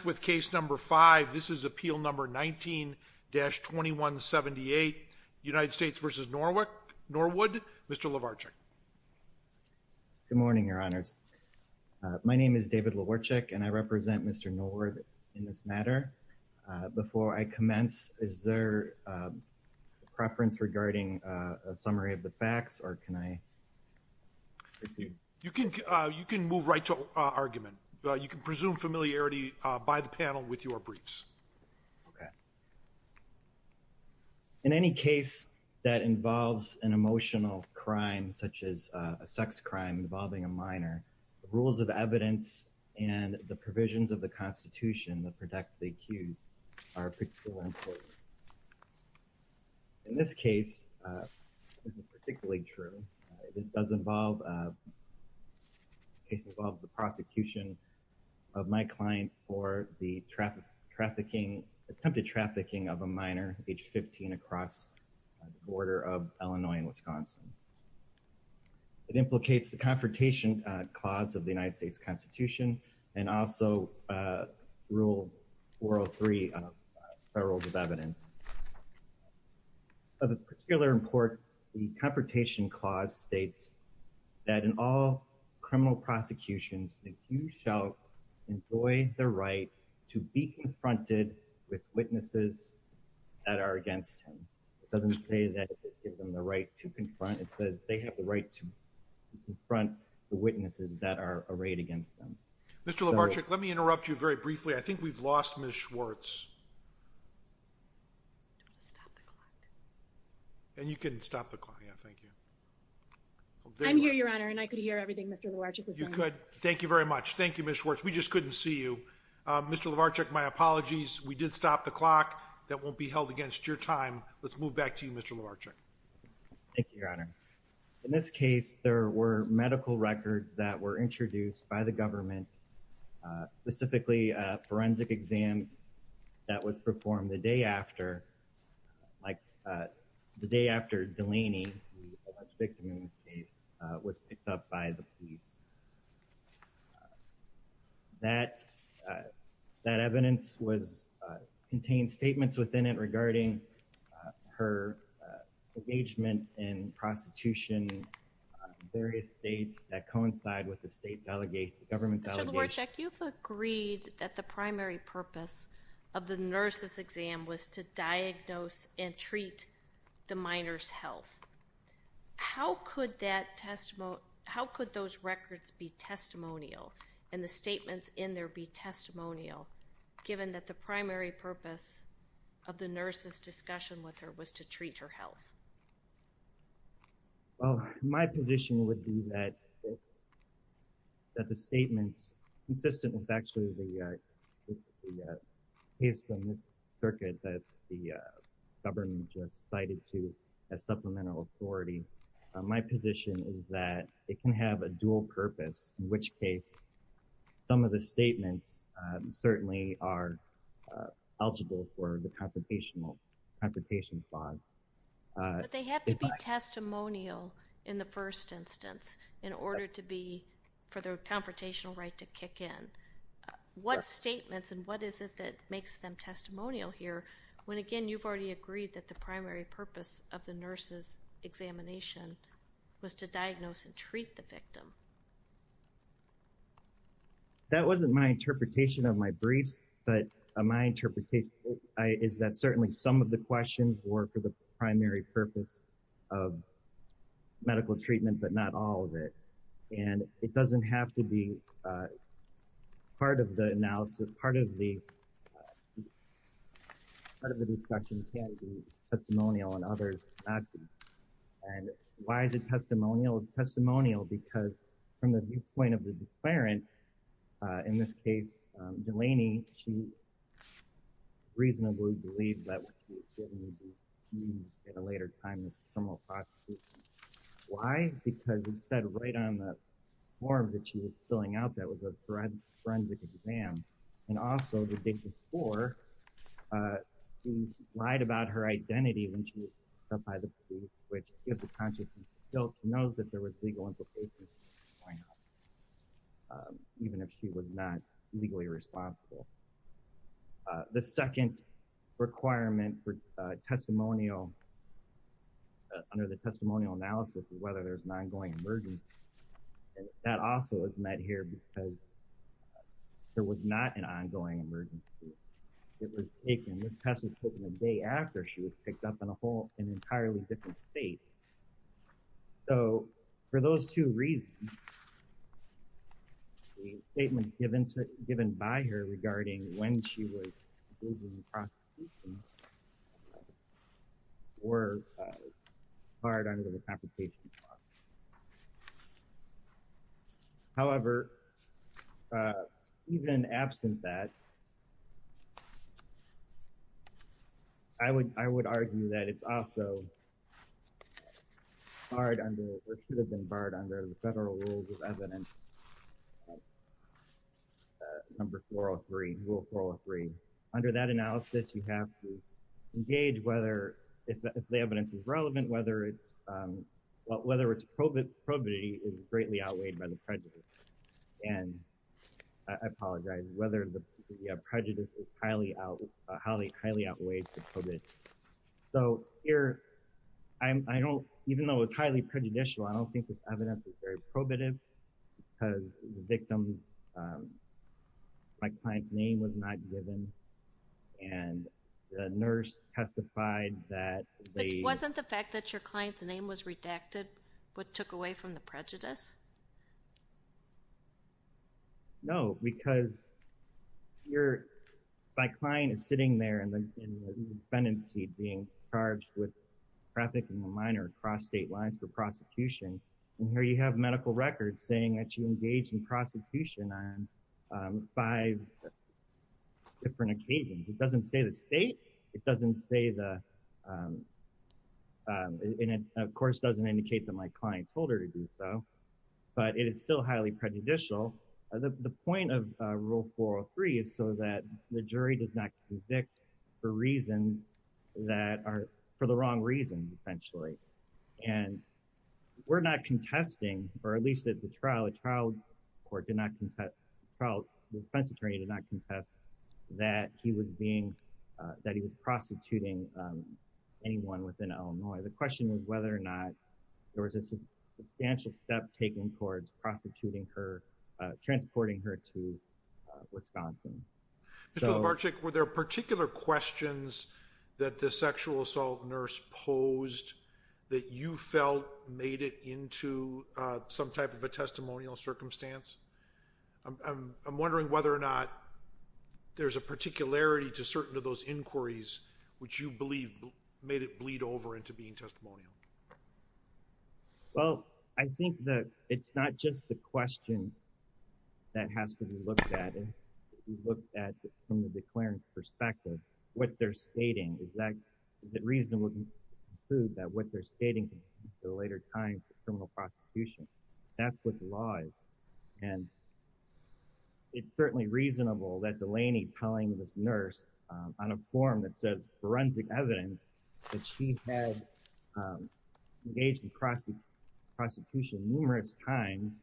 Good morning, Your Honors. My name is David Lewarchuk and I represent Mr. Norwood in this matter. Before I commence, is there a preference regarding a summary of the facts or can I proceed? You can move right to argument. You can presume familiarity by the panel with your briefs. In any case that involves an emotional crime such as a sex crime involving a minor, the rules of evidence and the provisions of the Constitution that protect the accused are particularly important. In this case, this is particularly true. This case involves the prosecution of my client for the attempted trafficking of a minor age 15 across the border of Illinois and Wisconsin. It implicates the Confrontation Clause of the United States Constitution and also Rule 403 of the Federal Rules of Evidence. Of particular import, the Confrontation Clause states that in all criminal prosecutions, the accused shall enjoy the right to be confronted with witnesses that are against him. It doesn't say that it gives them the right to confront. It says they have the right to confront the witnesses that are arrayed against them. In this case, there were medical records that were introduced by the government. Specifically, a forensic exam that was performed the day after Delaney, the alleged victim in this case, was picked up by the police. That evidence contained statements within it regarding her engagement in prostitution in various states that coincide with the government's allegations. You've agreed that the primary purpose of the nurse's exam was to diagnose and treat the minor's health. How could those records be testimonial and the statements in there be testimonial given that the primary purpose of the nurse's discussion with her was to treat her health? Well, my position would be that the statements, consistent with actually the case from this circuit that the government just cited to as supplemental authority, my position is that it can have a dual purpose, in which case some of the statements certainly are eligible for the Confrontation Clause. But they have to be testimonial in the first instance in order for their confrontational right to kick in. What statements and what is it that makes them testimonial here when, again, you've already agreed that the primary purpose of the nurse's examination was to diagnose and treat the victim? That wasn't my interpretation of my briefs, but my interpretation is that certainly some of the questions were for the primary purpose of medical treatment, but not all of it. And it doesn't have to be part of the analysis, part of the discussion can be testimonial and others not be. And why is it testimonial? It's testimonial because from the viewpoint of the declarant, in this case Delaney, she reasonably believed that she was going to be in a later time in the criminal prosecution. Why? Because it said right on the form that she was filling out that was a forensic exam. And also, the day before, she lied about her identity when she was stopped by the police, which gives the conscience of guilt to know that there was legal implications of what was going on, even if she was not legally responsible. The second requirement for testimonial, under the testimonial analysis, is whether there's an ongoing emergency. And that also is met here because there was not an ongoing emergency. It was taken, this test was taken the day after she was picked up in a whole, an entirely different state. So, for those two reasons, the statement given to, given by her regarding when she was in the prosecution were hard under the application process. However, even absent that, I would argue that it's also hard under, or should have been barred under the federal rules of evidence, number 403, rule 403. Under that analysis, you have to gauge whether, if the evidence is relevant, whether it's, whether it's probity is greatly outweighed by the prejudice. And I apologize, whether the prejudice is highly out, highly, highly outweighed for probity. So, here, I'm, I don't, even though it's highly prejudicial, I don't think this evidence is very probative because the victim's, my client's name was not given. And the nurse testified that they- But wasn't the fact that your client's name was redacted what took away from the prejudice? No, because you're, my client is sitting there in the, in the defendant's seat being charged with trafficking a minor across state lines for prosecution. And here you have medical records saying that you engage in prosecution on five different occasions. It doesn't say the state, it doesn't say the, and it, of course, doesn't indicate that my client told her to do so, but it is still highly prejudicial. The point of rule 403 is so that the jury does not convict for reasons that are, for the wrong reasons, essentially. And we're not contesting, or at least at the trial, the trial court did not contest, the trial defense attorney did not contest that he was being, that he was prostituting anyone within Illinois. The question is whether or not there was a substantial step taken towards prostituting her, transporting her to Wisconsin. Mr. Lubarczyk, were there particular questions that the sexual assault nurse posed that you felt made it into some type of a testimonial circumstance? I'm wondering whether or not there's a particularity to certain of those inquiries which you believe made it bleed over into being testimonial. Well, I think that it's not just the question that has to be looked at. If you look at it from the declarant's perspective, what they're stating is that the reason would include that what they're stating in the later time for criminal prosecution. That's what the law is. And it's certainly reasonable that Delaney telling this nurse on a form that says forensic evidence that she had engaged in prosecution numerous times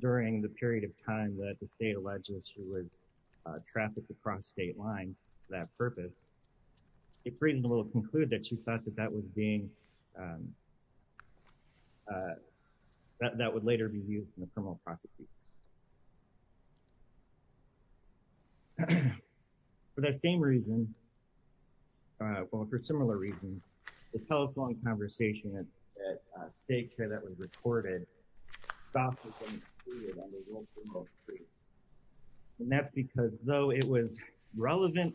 during the period of time that the state alleged that she was trafficked across state lines for that purpose. It's reasonable to conclude that she thought that that was being, that that would later be used in a criminal prosecution. For that same reason, well, for similar reasons, the telephone conversation at state care that was recorded stopped within a period of almost three weeks. And that's because though it was relevant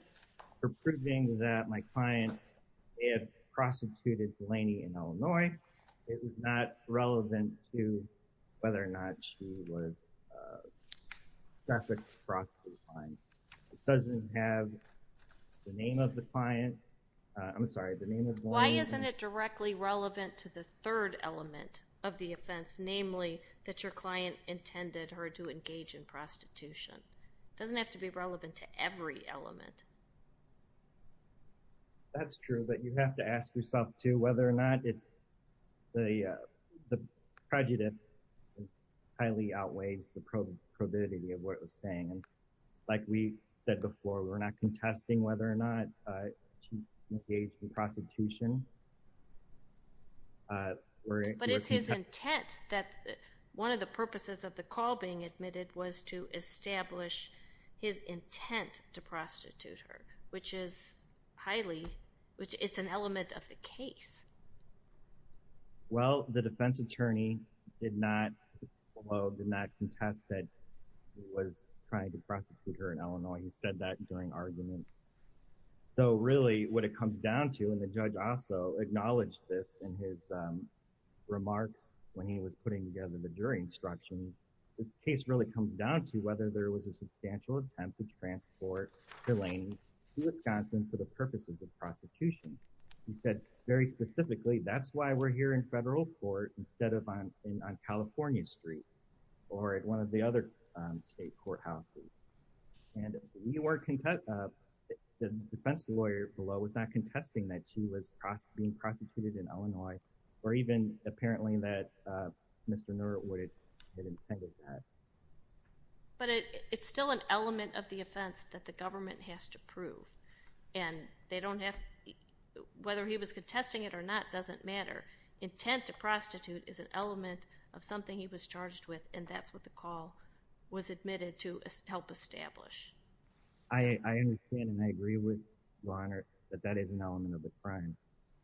for proving that my client had prostituted Delaney in Illinois, it was not relevant to whether or not she was trafficked across state lines. It doesn't have the name of the client. Why isn't it directly relevant to the third element of the offense, namely that your client intended her to engage in prostitution? It doesn't have to be relevant to every element. That's true, but you have to ask yourself too whether or not it's the prejudice highly outweighs the probability of what it was saying. Like we said before, we're not contesting whether or not she engaged in prostitution. But it's his intent that one of the purposes of the call being admitted was to establish his intent to prostitute her, which is highly, it's an element of the case. Well, the defense attorney did not contest that he was trying to prosecute her in Illinois. He said that during argument. So really what it comes down to, and the judge also acknowledged this in his remarks when he was putting together the jury instructions, this case really comes down to whether there was a substantial attempt to transport Delaney to Wisconsin for the purposes of prosecution. He said very specifically, that's why we're here in federal court instead of on California Street or at one of the other state courthouses. And the defense lawyer below was not contesting that she was being prostituted in Illinois or even apparently that Mr. Neurowood had intended that. But it's still an element of the offense that the government has to prove. And they don't have, whether he was contesting it or not doesn't matter. Intent to prostitute is an element of something he was charged with, and that's what the call was admitted to help establish. I understand and I agree with your Honor that that is an element of the crime.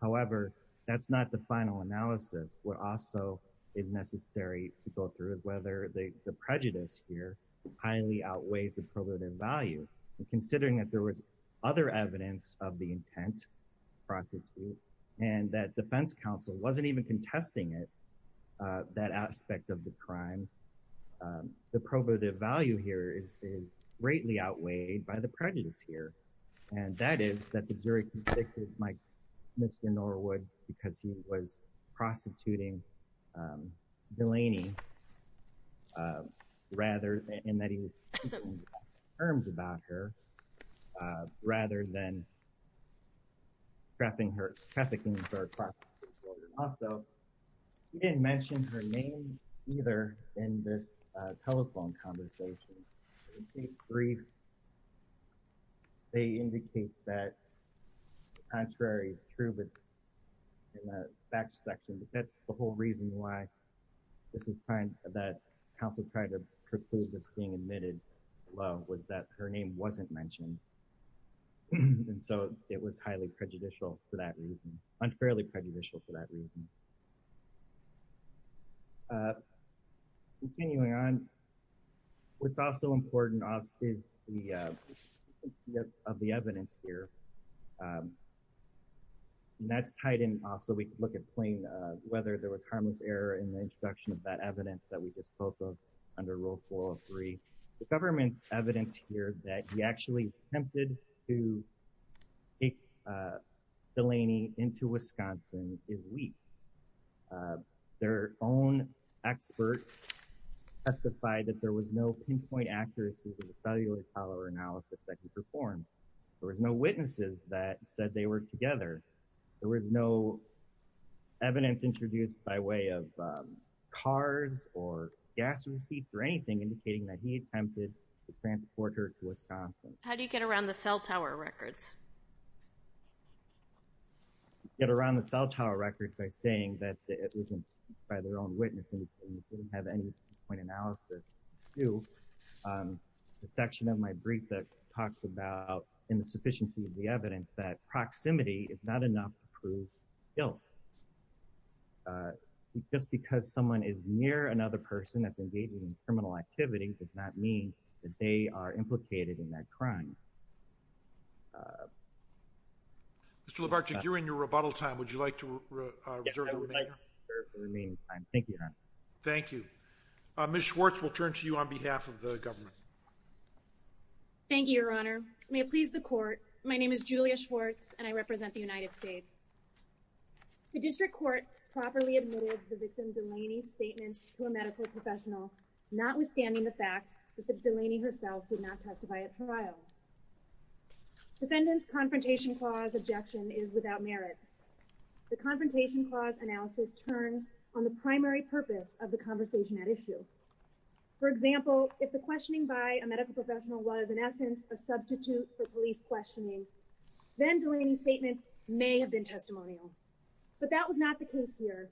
However, that's not the final analysis. What also is necessary to go through is whether the prejudice here highly outweighs the probative value. And considering that there was other evidence of the intent, prostitute, and that defense counsel wasn't even contesting it, that aspect of the crime, the probative value here is greatly outweighed by the prejudice here. And that is that the jury convicted Mr. Neurowood because he was prostituting Delaney, and that he was speaking in terms about her, rather than trafficking her car. Also, he didn't mention her name either in this telephone conversation. In case three, they indicate that the contrary is true in the facts section, but that's the whole reason why this is fine, that counsel tried to proclude this being admitted, was that her name wasn't mentioned. And so it was highly prejudicial for that reason, unfairly prejudicial for that reason. Continuing on, what's also important to us is the evidence here. And that's tied in also, we can look at plain whether there was harmless error in the introduction of that evidence that we just spoke of under Rule 403. The government's evidence here that he actually attempted to take Delaney into Wisconsin is weak. Their own expert testified that there was no pinpoint accuracy to the cellular follower analysis that he performed. There was no witnesses that said they were together. There was no evidence introduced by way of cars or gas receipts or anything, indicating that he attempted to transport her to Wisconsin. How do you get around the cell tower records? You get around the cell tower records by saying that it wasn't by their own witness, and they didn't have any pinpoint analysis to do. The section of my brief that talks about, in the sufficiency of the evidence, that proximity is not enough to prove guilt. Just because someone is near another person that's engaging in criminal activity does not mean that they are implicated in that crime. Mr. Labarge, if you're in your rebuttal time, would you like to reserve the remaining time? Yes, I would like to reserve the remaining time. Thank you, Your Honor. Thank you. Ms. Schwartz, we'll turn to you on behalf of the government. Thank you, Your Honor. May it please the Court, my name is Julia Schwartz, and I represent the United States. The District Court properly admitted the victim Delaney's statements to a medical professional, notwithstanding the fact that Delaney herself did not testify at trial. Defendant's Confrontation Clause objection is without merit. The Confrontation Clause analysis turns on the primary purpose of the conversation at issue. For example, if the questioning by a medical professional was, in essence, a substitute for police questioning, then Delaney's statements may have been testimonial. But that was not the case here.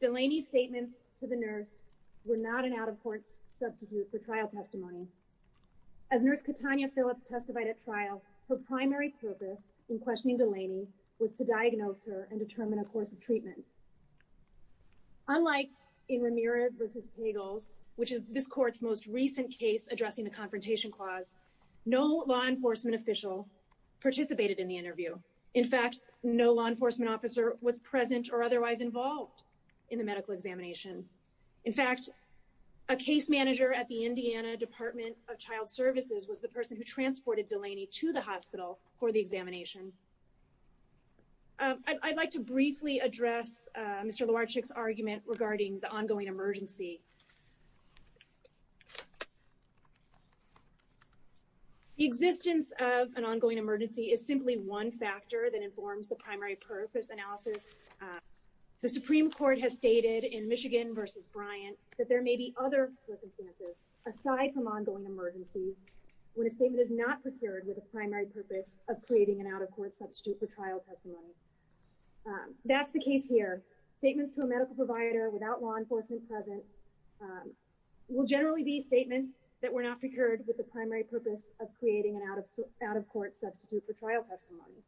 Delaney's statements to the nurse were not an out-of-courts substitute for trial testimony. As Nurse Katanya Phillips testified at trial, her primary purpose in questioning Delaney was to diagnose her and determine a course of treatment. Unlike in Ramirez v. Tagles, which is this Court's most recent case addressing the Confrontation Clause, no law enforcement official participated in the interview. In fact, no law enforcement officer was present or otherwise involved in the medical examination. In fact, a case manager at the Indiana Department of Child Services was the person who transported Delaney to the hospital for the examination. I'd like to briefly address Mr. Luarchik's argument regarding the ongoing emergency. The existence of an ongoing emergency is simply one factor that informs the primary purpose analysis. The Supreme Court has stated in Michigan v. Bryant that there may be other circumstances aside from ongoing emergencies when a statement is not procured with the primary purpose of creating an out-of-courts substitute for trial testimony. That's the case here. Statements to a medical provider without law enforcement present will generally be statements that were not procured with the primary purpose of creating an out-of-courts substitute for trial testimony.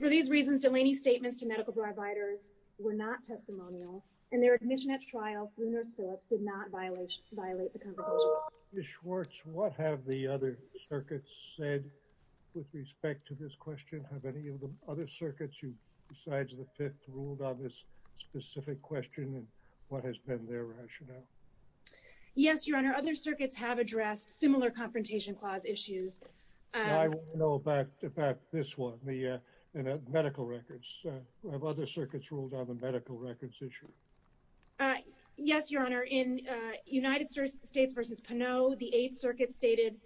For these reasons, Delaney's statements to medical providers were not testimonial and their admission at trial for Nurse Phillips did not violate the Confrontation Clause. Ms. Schwartz, what have the other circuits said with respect to this question? Have any of the other circuits besides the Fifth ruled on this specific question and what has been their rationale? Yes, Your Honor, other circuits have addressed similar Confrontation Clause issues. I want to know about this one, the medical records. Have other circuits ruled on the medical records issue? Yes, Your Honor. In United States v. Pineau, the Eighth Circuit stated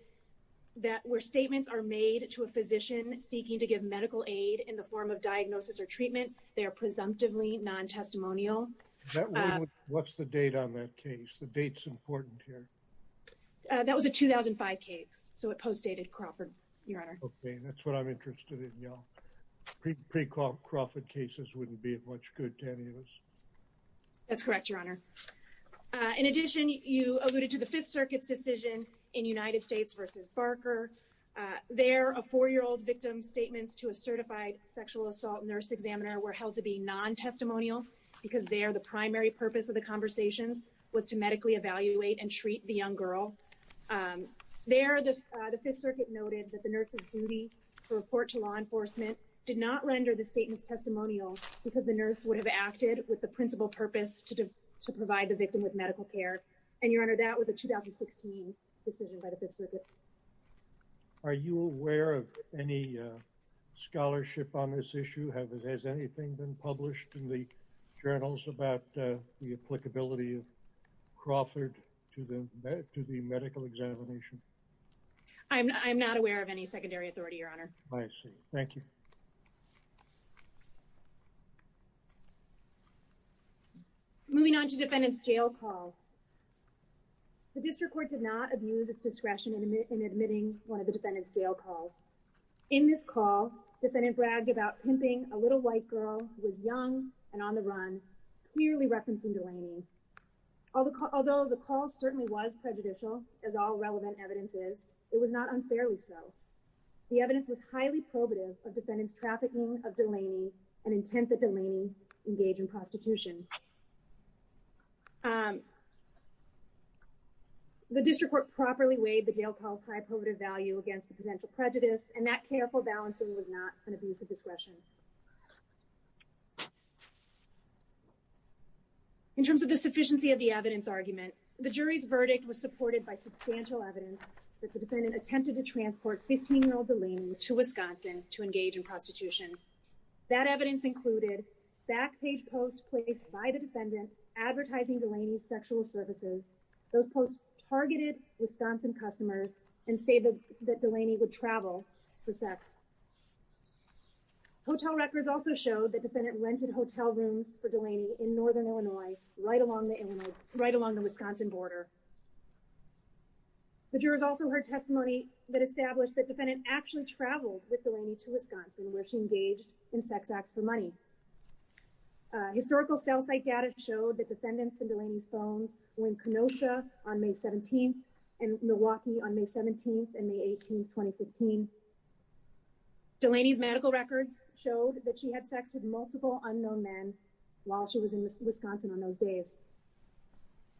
that where statements are made to a physician seeking to give medical aid in the form of diagnosis or treatment, they are presumptively non-testimonial. What's the date on that case? The date's important here. That was a 2005 case, so it postdated Crawford, Your Honor. Okay, that's what I'm interested in, yeah. Pre-Crawford cases wouldn't be much good to any of us. That's correct, Your Honor. In addition, you alluded to the Fifth Circuit's decision in United States v. Barker. There, a four-year-old victim's statements to a certified sexual assault nurse examiner were held to be non-testimonial because there, the primary purpose of the conversations was to medically evaluate and treat the young girl. There, the Fifth Circuit noted that the nurse's duty to report to law enforcement did not render the statements testimonial because the nurse would have acted with the principal purpose to provide the victim with medical care. And, Your Honor, that was a 2016 decision by the Fifth Circuit. Are you aware of any scholarship on this issue? Has anything been published in the journals about the applicability of Crawford to the medical examination? I'm not aware of any secondary authority, Your Honor. I see. Thank you. Moving on to defendant's jail call. The district court did not abuse its discretion in admitting one of the defendant's jail calls. In this call, defendant bragged about pimping a little white girl who was young and on the run, clearly referencing Delaney. Although the call certainly was prejudicial, as all relevant evidence is, it was not unfairly so. The evidence was highly probative of defendant's trafficking of Delaney and intent that Delaney engage in prostitution. The district court properly weighed the jail call's high probative value against the potential prejudice, and that careful balancing was not an abuse of discretion. In terms of the sufficiency of the evidence argument, the jury's verdict was supported by substantial evidence that the defendant attempted to transport 15-year-old Delaney to Wisconsin to engage in prostitution. That evidence included back-page posts placed by the defendant advertising Delaney's sexual services. Those posts targeted Wisconsin customers and stated that Delaney would travel for sex. Hotel records also showed that defendant rented hotel rooms for Delaney in northern Illinois right along the Wisconsin border. The jurors also heard testimony that established that defendant actually traveled with Delaney to Wisconsin where she engaged in sex acts for money. Historical cell site data showed that defendants in Delaney's phones were in Kenosha on May 17th and Milwaukee on May 17th and May 18th, 2015. Delaney's medical records showed that she had sex with multiple unknown men while she was in Wisconsin on those days.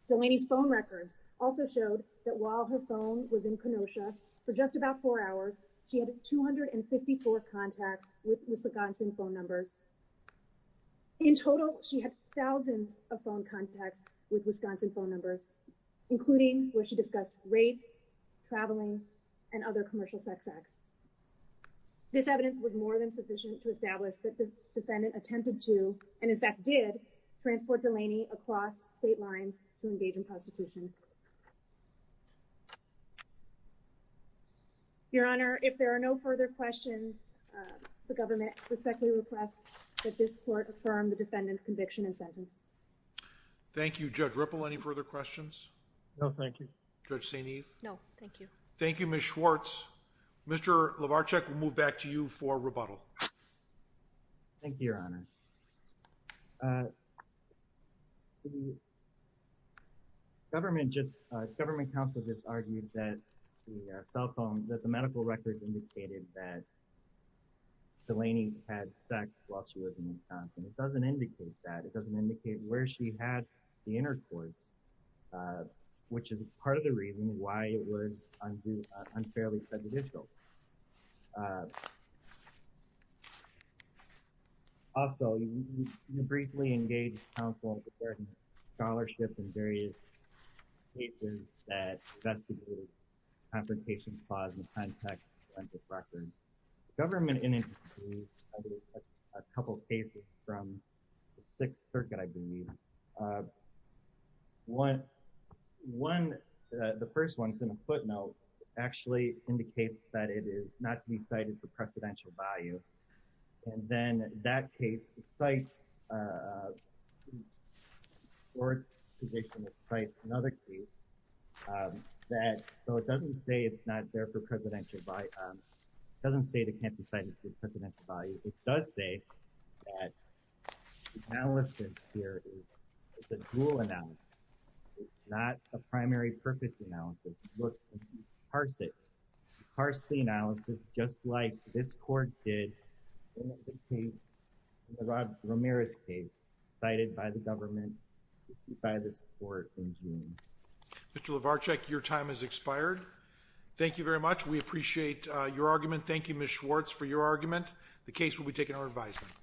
Delaney's phone records also showed that while her phone was in Kenosha for just about four hours, she had 254 contacts with Wisconsin phone numbers. In total, she had thousands of phone contacts with Wisconsin phone numbers including where she discussed rates, traveling, and other commercial sex acts. This evidence was more than sufficient to establish that the defendant attempted to and in fact did, transport Delaney across state lines to engage in prostitution. Your Honor, if there are no further questions, the government respectfully requests that this court affirm the defendant's conviction and sentence. Thank you. Judge Ripple, any further questions? No, thank you. Judge St. Eve? No, thank you. Thank you, Ms. Schwartz. Mr. Lovacek, we'll move back to you for rebuttal. Thank you, Your Honor. The government counsel just argued that the cell phone, that the medical records indicated that Delaney had sex while she was in Wisconsin. It doesn't indicate that. It doesn't indicate where she had the intercourse, which is part of the reason why it was unfairly prejudicial. Also, you briefly engaged counsel in preparing scholarships and various cases that investigated the confrontation clause in the context of the records. The government indicated a couple of cases from the Sixth Circuit, I believe. One, the first one is in a footnote. It actually indicates that Delaney had intercourse and that it is not to be cited for precedential value. And then that case cites Schwartz's position. It cites another case that, so it doesn't say it's not there for precedential value. It doesn't say it can't be cited for precedential value. It does say that the analysis here is a dual analysis. It's not a primary purpose analysis. It's a parsley analysis, just like this court did in the Rod Ramirez case cited by the government by this court in June. Mr. Lovarczyk, your time has expired. Thank you very much. We appreciate your argument. Thank you, Ms. Schwartz, for your argument. The case will be taken to our advisement.